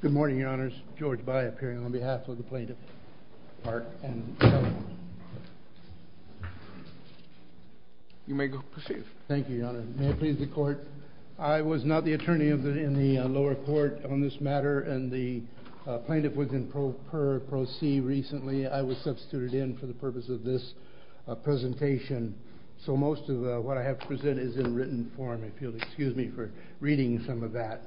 Good morning, your honors. George By appearing on behalf of the plaintiff, Park and Seller. You may proceed. Thank you, your honor. May it please the court. I was not the attorney in the lower court on this matter, and the plaintiff was in Pro Per Pro C recently. I was substituted in for the purpose of this presentation. So most of what I have to present is in written form, if you'll excuse me for reading some of that.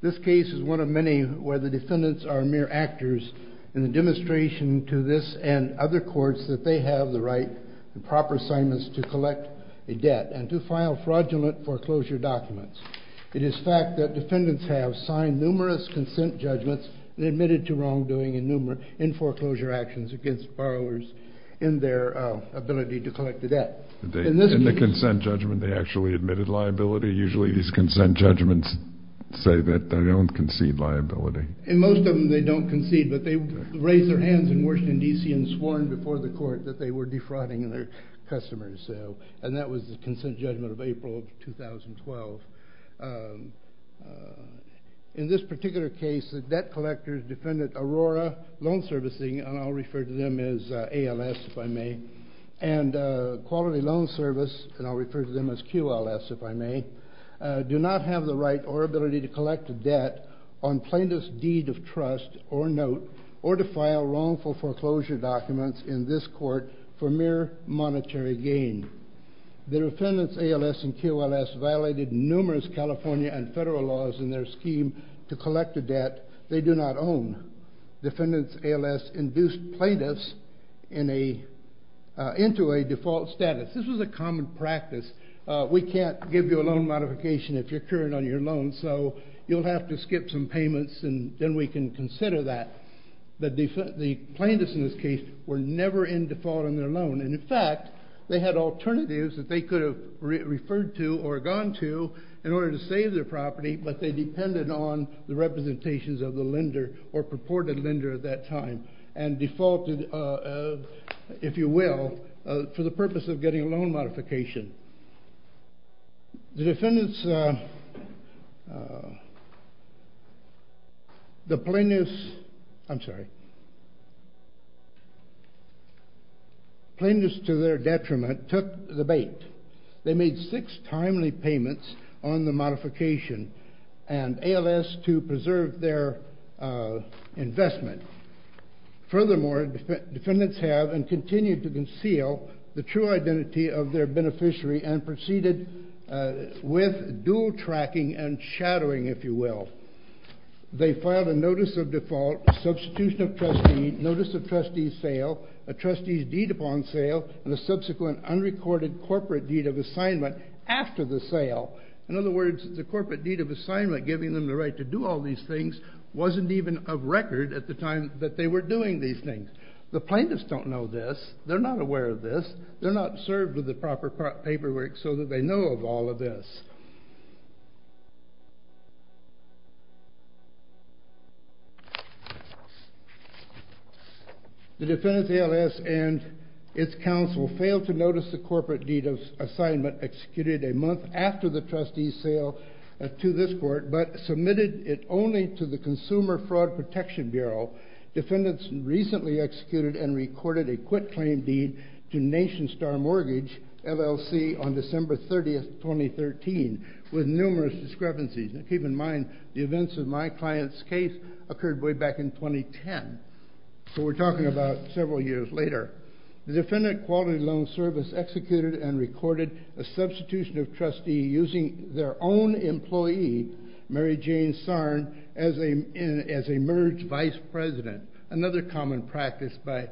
This case is one of many where the defendants are mere actors in the demonstration to this and other courts that they have the right and proper assignments to collect a debt and to file fraudulent foreclosure documents. It is fact that defendants have signed numerous consent judgments and admitted to wrongdoing in foreclosure actions against borrowers in their ability to collect the debt. In the consent judgment, they actually admitted liability. Usually these consent judgments say that they don't concede liability. In most of them, they don't concede, but they raised their hands in Washington, DC, and sworn before the court that they were defrauding their customers. And that was the consent judgment of April of 2012. In this particular case, the debt collectors defendant Aurora Loan Servicing, and I'll refer to them as ALS if I may, and Quality Loan Service, and I'll refer to them as QLS if I may, do not have the right or ability to collect a debt on plaintiff's deed of trust or note or to file wrongful foreclosure documents in this court for mere monetary gain. The defendants ALS and QLS violated numerous California and federal laws in their scheme to collect a debt they do not own. Defendants ALS induced plaintiffs into a default status. This was a common practice. We can't give you a loan modification if you're current on your loan, so you'll have to skip some payments, and then we can consider that. But the plaintiffs in this case were never in default on their loan. And in fact, they had alternatives that they could have referred to or gone to in order to save their property, but they depended on the representations of the lender or purported lender at that time and defaulted, if you will, for the purpose of getting a loan modification. The defendants, the plaintiffs, I'm sorry, plaintiffs to their detriment took the bait. They made six timely payments on the modification and ALS to preserve their investment. Furthermore, defendants have and continue to conceal the true identity of their beneficiary and proceeded with dual tracking and shadowing, if you will. They filed a notice of default, substitution of trustee, notice of trustee sale, a trustee's deed upon sale, and a subsequent unrecorded corporate deed of assignment after the sale. In other words, the corporate deed of assignment, giving them the right to do all these things, wasn't even of record at the time that they were doing these things. The plaintiffs don't know this. They're not aware of this. They're not served with the proper paperwork so that they know of all of this. The defendants, ALS, and its counsel failed to notice the corporate deed of assignment executed a month after the trustee's sale to this court but submitted it only to the Consumer Fraud Protection Bureau. Defendants recently executed and recorded a quitclaim deed to Nation Star Mortgage, LLC, on December 30, 2013 with numerous discrepancies. Keep in mind, the events of my client's case occurred way back in 2010. So we're talking about several years later. The defendant Quality Loan Service executed and recorded a substitution of trustee using their own employee, Mary Jane Sarn, as a merged vice president, another common practice by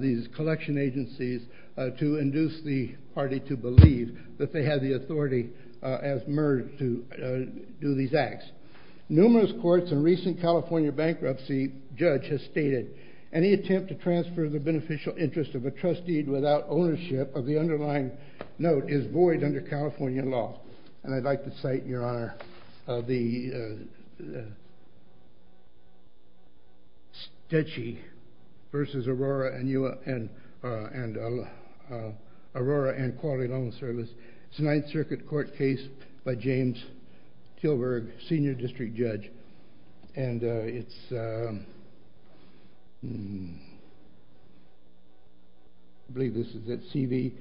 these collection agencies to induce the party to believe that they had the authority as merged to do these acts. Numerous courts and recent California bankruptcy judge has stated, any attempt to transfer the beneficial interest of a trustee without ownership of the underlying note is void under California law. And I'd like to cite, Your Honor, the Stetsch versus Aurora and Quality Loan Service. It's a Ninth Circuit court case by James Tilburg, senior district judge. And it's, I believe this is it, CV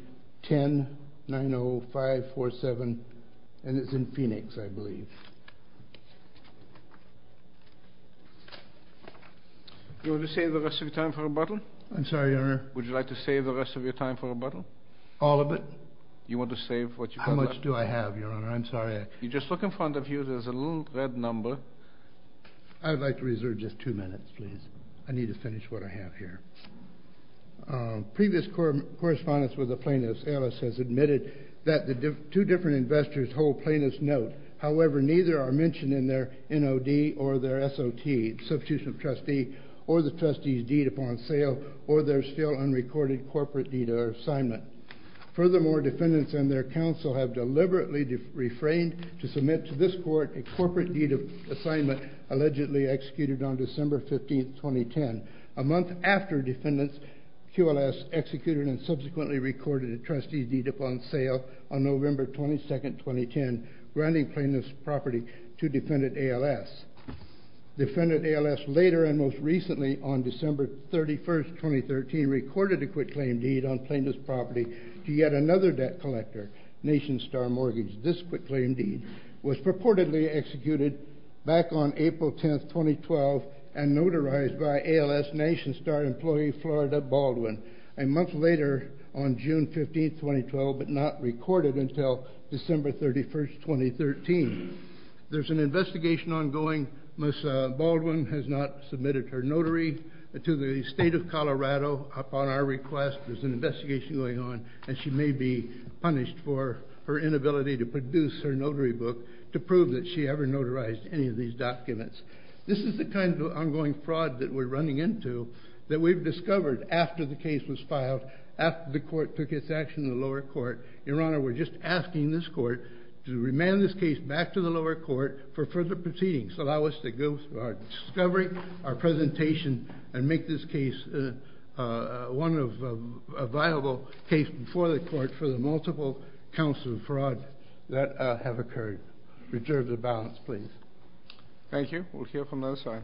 1090547. And it's in Phoenix, I believe. You want to save the rest of your time for a bottle? I'm sorry, Your Honor. Would you like to save the rest of your time for a bottle? All of it. You want to save what you have left? How much do I have, Your Honor? I'm sorry. You just look in front of you. There's a little red number. I'd like to reserve just two minutes, please. I need to finish what I have here. Previous correspondence with the plaintiff's alias has admitted that the two different investors hold plaintiff's note. However, neither are mentioned in their NOD or their SOT, substitution of trustee, or the trustee's deed upon sale, or their still unrecorded corporate deed or assignment. Furthermore, defendants and their counsel have deliberately refrained to submit to this court a corporate deed of assignment allegedly executed on December 15, 2010, a month after defendants' QLS executed and subsequently recorded a trustee's deed upon sale on November 22, 2010, granting plaintiff's property to defendant ALS. Defendant ALS, later and most recently on December 31, 2013, recorded a quitclaim deed on plaintiff's property to yet another debt collector, Nation Star Mortgage. This quitclaim deed was purportedly executed back on April 10, 2012, and notarized by ALS Nation Star employee, Florida Baldwin, a month later on June 15, 2012, but not recorded until December 31, 2013. There's an investigation ongoing. Ms. Baldwin has not submitted her notary to the state of Colorado upon our request. There's an investigation going on, and she may be punished for her inability to produce her notary book to prove that she ever notarized any of these documents. This is the kind of ongoing fraud that we're running into that we've discovered after the case was filed, after the court took its action in the lower court. Your Honor, we're just asking this court to remand this case back to the lower court for further proceedings. Allow us to go through our discovery, our presentation, and make this case a viable case before the court for the multiple counts of fraud that have occurred. Reserve the balance, please. Thank you. We'll hear from the other side.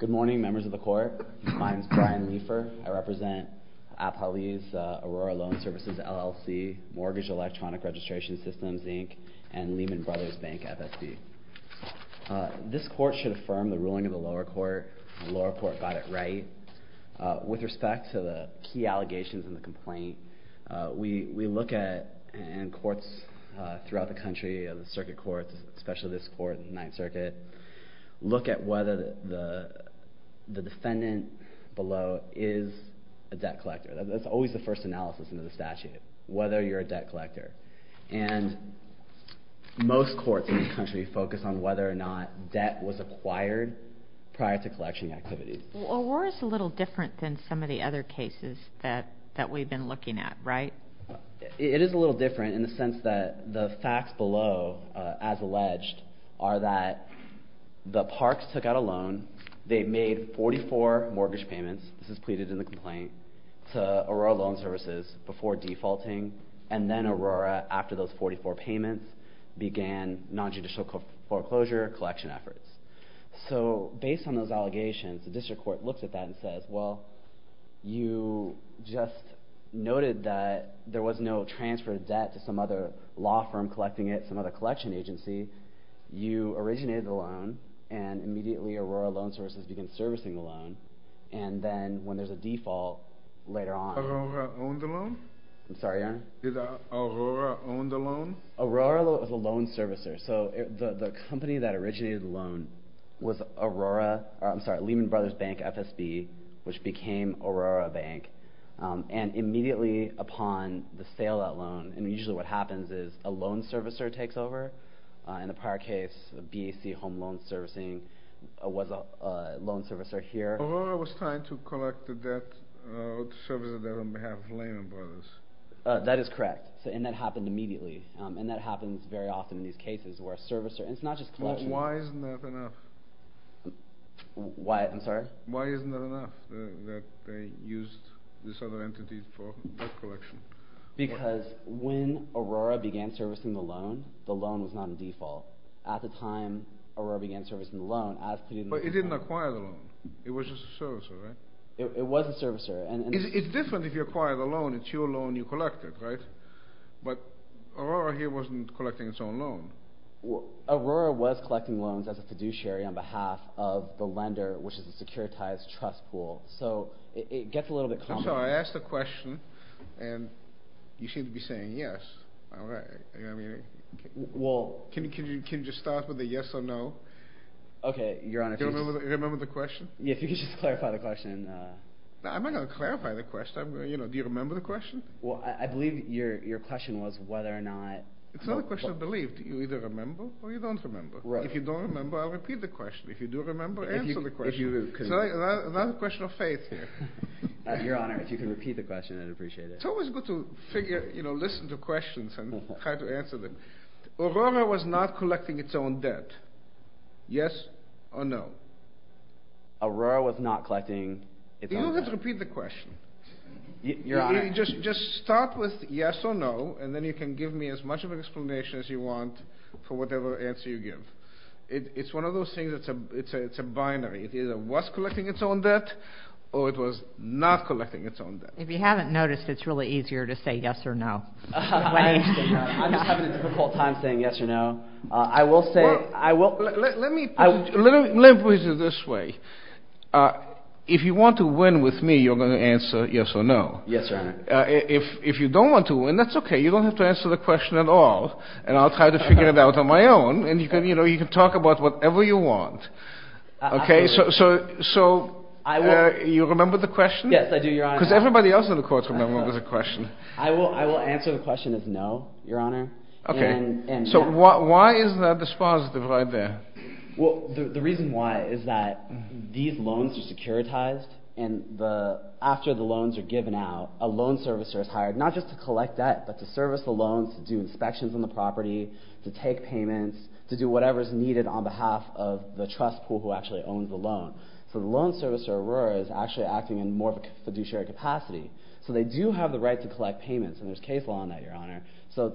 Good morning, members of the court. My name's Brian Leifer. I represent Appalese Aurora Loan Services LLC Mortgage Electronic Registration Systems, Inc., and Lehman Brothers Bank FSB. This court should affirm the ruling of the lower court. The lower court got it right. With respect to the key allegations in the complaint, we look at, in courts throughout the country, the circuit courts, especially this court in the Ninth Circuit, look at whether the defendant below is a debt collector. That's always the first analysis into the statute, whether you're a debt collector. And most courts in the country focus on whether or not debt was acquired prior to collection activities. Well, Aurora's a little different than some of the other cases that we've been looking at, right? It is a little different in the sense that the facts below, as alleged, are that the parks took out a loan. They made 44 mortgage payments, this is pleaded in the complaint, to Aurora Loan Services before defaulting. And then Aurora, after those 44 payments, began nonjudicial foreclosure collection efforts. So based on those allegations, the district court looks at that and says, well, you just noted that there was no transfer of debt to some other law firm collecting it, some other collection agency. You originated the loan. And immediately, Aurora Loan Services began servicing the loan. And then when there's a default later on. Aurora owned the loan? I'm sorry, yeah? Did Aurora own the loan? Aurora was a loan servicer. So the company that originated the loan was Lehman Brothers Bank FSB, which became Aurora Bank. And immediately upon the sale of that loan, and usually what happens is a loan servicer takes over. In the prior case, BEC Home Loan Servicing was a loan servicer here. Aurora was trying to collect the debt, or to service the debt, on behalf of Lehman Brothers. That is correct. And that happened immediately. And that happens very often in these cases where a servicer, and it's not just collection. Why isn't that enough? Why, I'm sorry? Why isn't that enough that they used this other entity for debt collection? Because when Aurora began servicing the loan, the loan was not in default. At the time Aurora began servicing the loan, as previously said. But it didn't acquire the loan. It was just a servicer, right? It was a servicer. And it's different if you acquire the loan. It's your loan you collected, right? But Aurora here wasn't collecting its own loan. Aurora was collecting loans as a fiduciary on behalf of the lender, which is a securitized trust pool. So it gets a little bit complicated. I'm sorry, I asked a question, and you seem to be saying yes, all right. You know what I mean? Well. Can you just start with a yes or no? OK, Your Honor, please. Remember the question? Yeah, if you could just clarify the question. I'm not going to clarify the question. Do you remember the question? Well, I believe your question was whether or not. It's not a question of belief. You either remember, or you don't remember. If you don't remember, I'll repeat the question. If you do remember, answer the question. If you can. It's not a question of faith here. Your Honor, if you can repeat the question, I'd appreciate it. It's always good to figure, you know, listen to questions and try to answer them. Aurora was not collecting its own debt. Yes or no? Aurora was not collecting its own debt. You don't have to repeat the question. Just start with yes or no, and then you can give me as much of an explanation as you want for whatever answer you give. It's one of those things, it's a binary. It either was collecting its own debt, or it was not collecting its own debt. If you haven't noticed, it's really easier to say yes or no. I'm just having a difficult time saying yes or no. Well, let me put it this way. If you want to win with me, you're going to answer yes or no. Yes, Your Honor. If you don't want to win, that's OK. You don't have to answer the question at all. And I'll try to figure it out on my own. And you can talk about whatever you want. OK, so you remember the question? Yes, I do, Your Honor. Because everybody else in the court remembers the question. I will answer the question as no, Your Honor. OK. So why is that dispositive right there? Well, the reason why is that these loans are securitized. And after the loans are given out, a loan servicer is hired, not just to collect debt, but to service the loans, to do inspections on the property, to take payments, to do whatever is needed on behalf of the trust pool who actually owns the loan. So the loan servicer, Aurora, is actually acting in more of a fiduciary capacity. And there's case law on that, Your Honor. So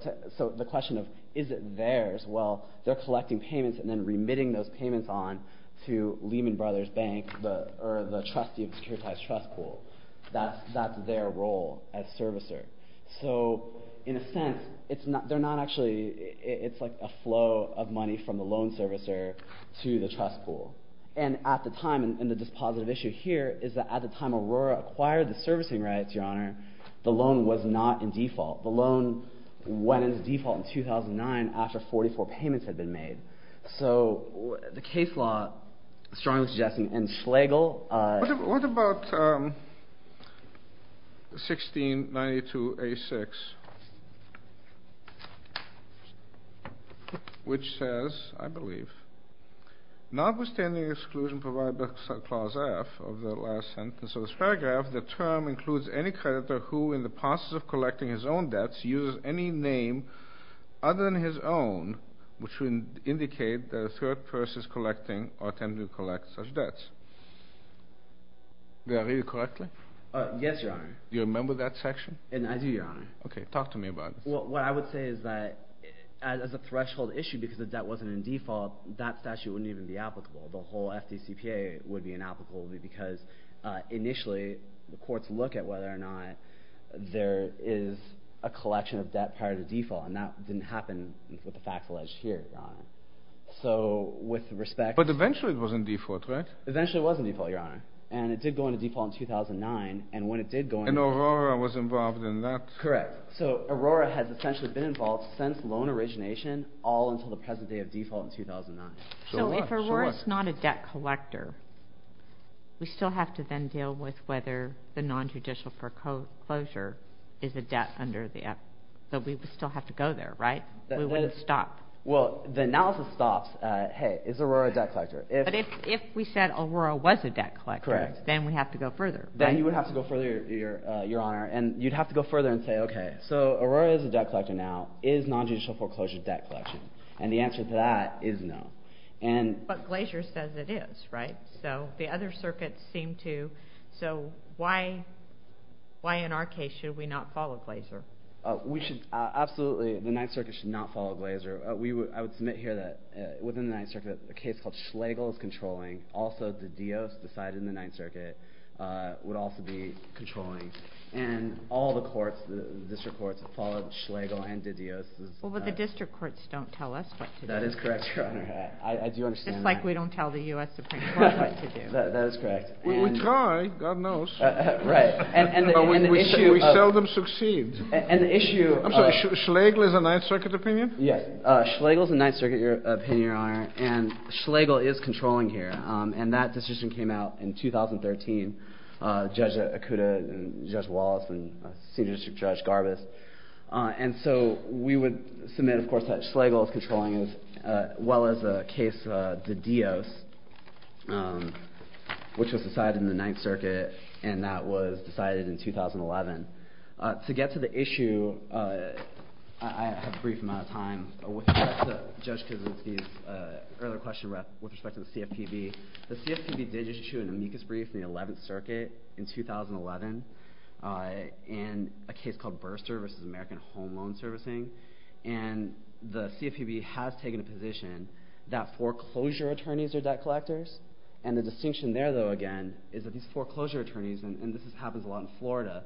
the question of, is it theirs? Well, they're collecting payments and then remitting those payments on to Lehman Brothers Bank, or the trustee of the securitized trust pool. That's their role as servicer. So in a sense, it's like a flow of money from the loan servicer to the trust pool. And at the time, and the dispositive issue here is that at the time Aurora acquired the servicing rights, Your Honor, the loan was not in default. The loan went into default in 2009 after 44 payments had been made. So the case law strongly suggests, and Schlegel. What about 1692A6, which says, I believe, notwithstanding exclusion provided by clause F of the last sentence of this paragraph, the term includes any creditor who, in the process of collecting his own debts, uses any name other than his own, which would indicate that a third person is collecting or attempting to collect such debts. Did I read it correctly? Yes, Your Honor. Do you remember that section? And I do, Your Honor. OK, talk to me about it. Well, what I would say is that as a threshold issue, because the debt wasn't in default, that statute wouldn't even be applicable. The whole FDCPA would be inapplicable because, initially, the courts look at whether or not there is a collection of debt prior to default. And that didn't happen with the facts alleged here, Your Honor. So with respect to- But eventually, it was in default, right? Eventually, it was in default, Your Honor. And it did go into default in 2009. And when it did go into- And Aurora was involved in that. Correct. So Aurora has essentially been involved since loan origination, all until the present day of default in 2009. So if Aurora's not a debt collector, we still have to then deal with whether the nonjudicial foreclosure is a debt under the F- that we would still have to go there, right? We wouldn't stop. Well, the analysis stops at, hey, is Aurora a debt collector? But if we said Aurora was a debt collector, then we have to go further. Then you would have to go further, Your Honor. And you'd have to go further and say, OK, so Aurora is a debt collector now. Is nonjudicial foreclosure debt collection? And the answer to that is no. But Glazer says it is, right? So the other circuits seem to. So why, in our case, should we not follow Glazer? Absolutely, the Ninth Circuit should not follow Glazer. I would submit here that within the Ninth Circuit, a case called Schlegel is controlling. Also, De Dios, the side in the Ninth Circuit, would also be controlling. And all the courts, the district courts, followed Schlegel and De Dios. Well, but the district courts don't tell us what to do. That is correct, Your Honor. I do understand that. It's like we don't tell the US Supreme Court what to do. That is correct. We try, God knows. Right, and the issue of- But we seldom succeed. And the issue of- I'm sorry, Schlegel is a Ninth Circuit opinion? Yes, Schlegel is a Ninth Circuit opinion, Your Honor. And Schlegel is controlling here. And that decision came out in 2013, Judge Akuta and Judge Wallace and Senior District Judge Garbus. And so we would submit, of course, that Schlegel is controlling, as well as the case De Dios, which was decided in the Ninth Circuit. And that was decided in 2011. To get to the issue, I have a brief amount of time. Judge Kosinski's earlier question with respect to the CFPB. The CFPB did issue an amicus brief in the 11th Circuit in 2011 in a case called Burr Services, American Home Loan Servicing. And the CFPB has taken a position that foreclosure attorneys are debt collectors. And the distinction there, though, again, is that these foreclosure attorneys, and this happens a lot in Florida,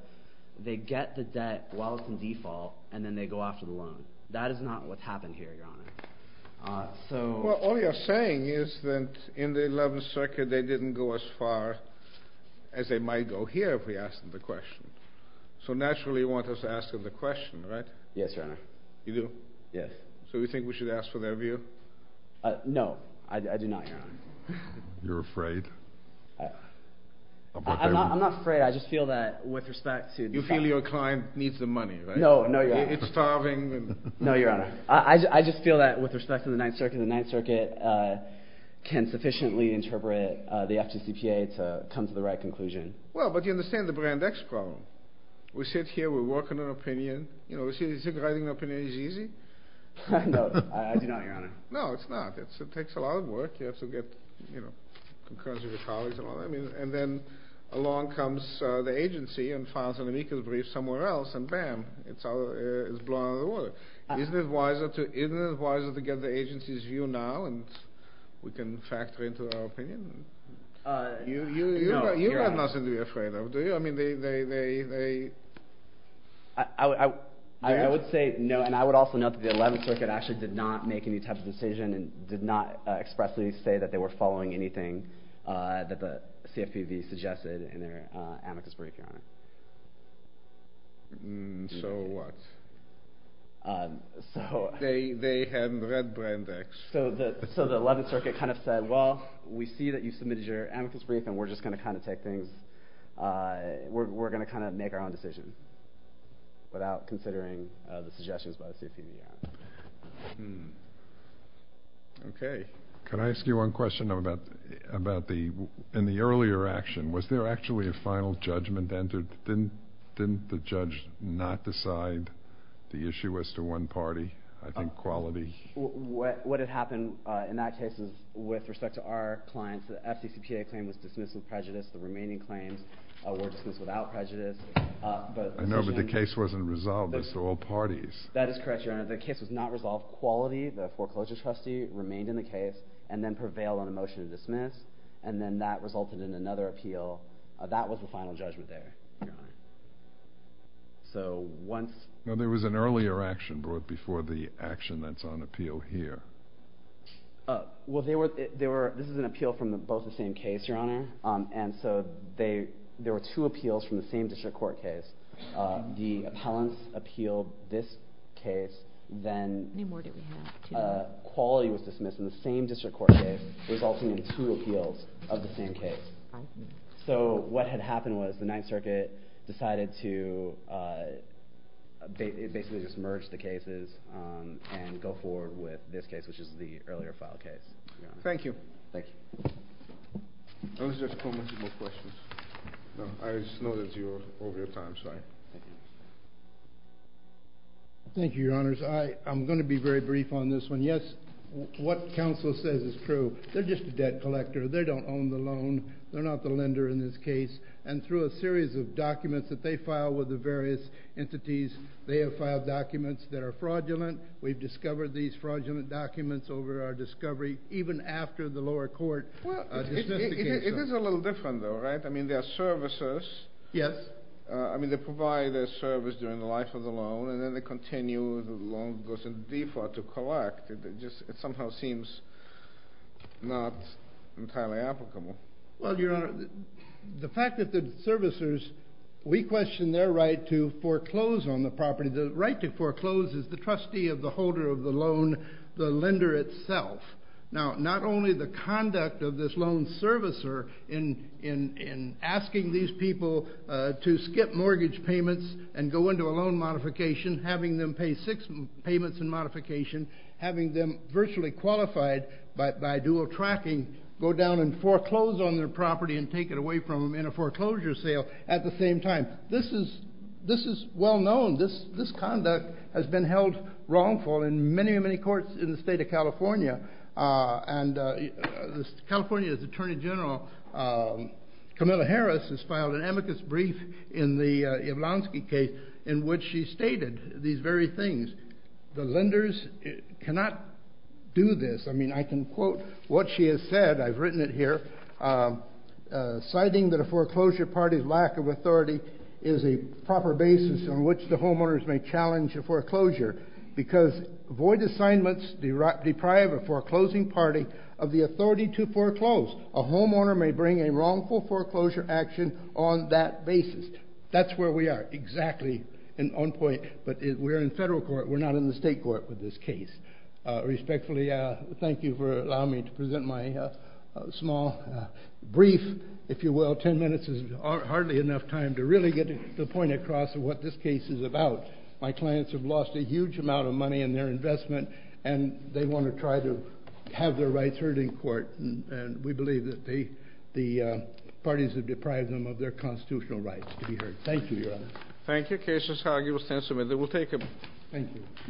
they get the debt while it's in default, and then they go after the loan. That is not what's happened here, Your Honor. Well, all you're saying is that in the 11th Circuit, they didn't go as far as they might go here if we asked them the question. So naturally, you want us to ask them the question, right? Yes, Your Honor. You do? Yes. So you think we should ask for their view? No, I do not, Your Honor. You're afraid? I'm not afraid. I just feel that, with respect to the fact that You feel your client needs the money, right? No, no, Your Honor. It's starving. No, Your Honor. I just feel that, with respect to the Ninth Circuit, the Ninth Circuit can sufficiently interpret the FGCPA to come to the right conclusion. Well, but you understand the Brand X problem. We sit here. We work on an opinion. You know, writing an opinion is easy. No, I do not, Your Honor. No, it's not. It takes a lot of work. You have to get concurrence with your colleagues and all that. And then along comes the agency and files an amicus brief somewhere else, and bam, it's blown out of the water. Isn't it wiser to get the agency's view now, and we can factor into our opinion? You have nothing to be afraid of, do you? I mean, they, they, they, they. I would say no, and I would also note that the Eleventh Circuit actually did not make any type of decision and did not expressly say that they were following anything that the CFPB suggested in their amicus brief, Your Honor. So what? So... They, they had read Brand X. So the, so the Eleventh Circuit kind of said, well, we see that you submitted your amicus brief and we're just going to kind of take things. We're, we're going to kind of make our own decision without considering the suggestions by the CFPB, Your Honor. Okay. Can I ask you one question about, about the, in the earlier action, was there actually a final judgment entered? Didn't, didn't the judge not decide the issue as to one party? I think quality... What, what had happened in that case is with respect to our clients, the FDCPA claim was dismissed with prejudice. The remaining claims were dismissed without prejudice, but... I know, but the case wasn't resolved as to all parties. That is correct, Your Honor. The case was not resolved. Quality, the foreclosure trustee, remained in the case and then prevailed on a motion to dismiss. And then that resulted in another appeal. That was the final judgment there, Your Honor. So once... No, there was an earlier action brought before the action that's on appeal here. Well, there were, there were, this is an appeal from both the same case, Your Honor. And so they, there were two appeals from the same district court case. The appellants appealed this case, then... Any more do we have? Quality was dismissed in the same district court case, resulting in two appeals of the same case. So what had happened was the Ninth Circuit decided to... They basically just merged the cases and go forward with this case, which is the earlier file case. Thank you. Thank you. Those are just commentable questions. I just know that you're over your time, sorry. Thank you. Thank you, Your Honors. I'm gonna be very brief on this one. Yes, what counsel says is true. They're just a debt collector. They don't own the loan. They're not the lender in this case. And through a series of documents that they file with the various entities, they have filed documents that are fraudulent. We've discovered these fraudulent documents over our discovery, even after the lower court... Well, it is a little different though, right? I mean, there are services. Yes. I mean, they provide a service during the life of the loan and then they continue, the loan goes into default to collect. It just somehow seems not entirely applicable. Well, Your Honor, the fact that the servicers, we question their right to foreclose on the property. The right to foreclose is the trustee of the holder of the loan, the lender itself. Now, not only the conduct of this loan servicer in asking these people to skip mortgage payments and go into a loan modification, having them pay six payments in modification, having them virtually qualified by dual tracking, go down and foreclose on their property and take it away from them in a foreclosure sale at the same time. This is well known. This conduct has been held wrongful in many, many courts in the state of California. And California's attorney general, Camilla Harris, has filed an amicus brief in the Yablonsky case in which she stated these very things. The lenders cannot do this. I mean, I can quote what she has said. I've written it here. Citing that a foreclosure party's lack of authority is a proper basis on which the homeowners may challenge a foreclosure because void assignments deprive a foreclosing party of the authority to foreclose. A homeowner may bring a wrongful foreclosure action on that basis. That's where we are exactly on point, but we're in federal court. We're not in the state court with this case. Respectfully, thank you for allowing me to present my small brief, if you will. 10 minutes is hardly enough time to really get the point across of what this case is about. My clients have lost a huge amount of money in their investment, and they want to try to have their rights heard in court. And we believe that the parties have deprived them of their constitutional rights to be heard. Thank you, Your Honor. Thank you. Case is argued. We'll take a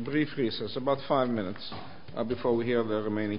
brief recess, about five minutes, before we hear the remaining.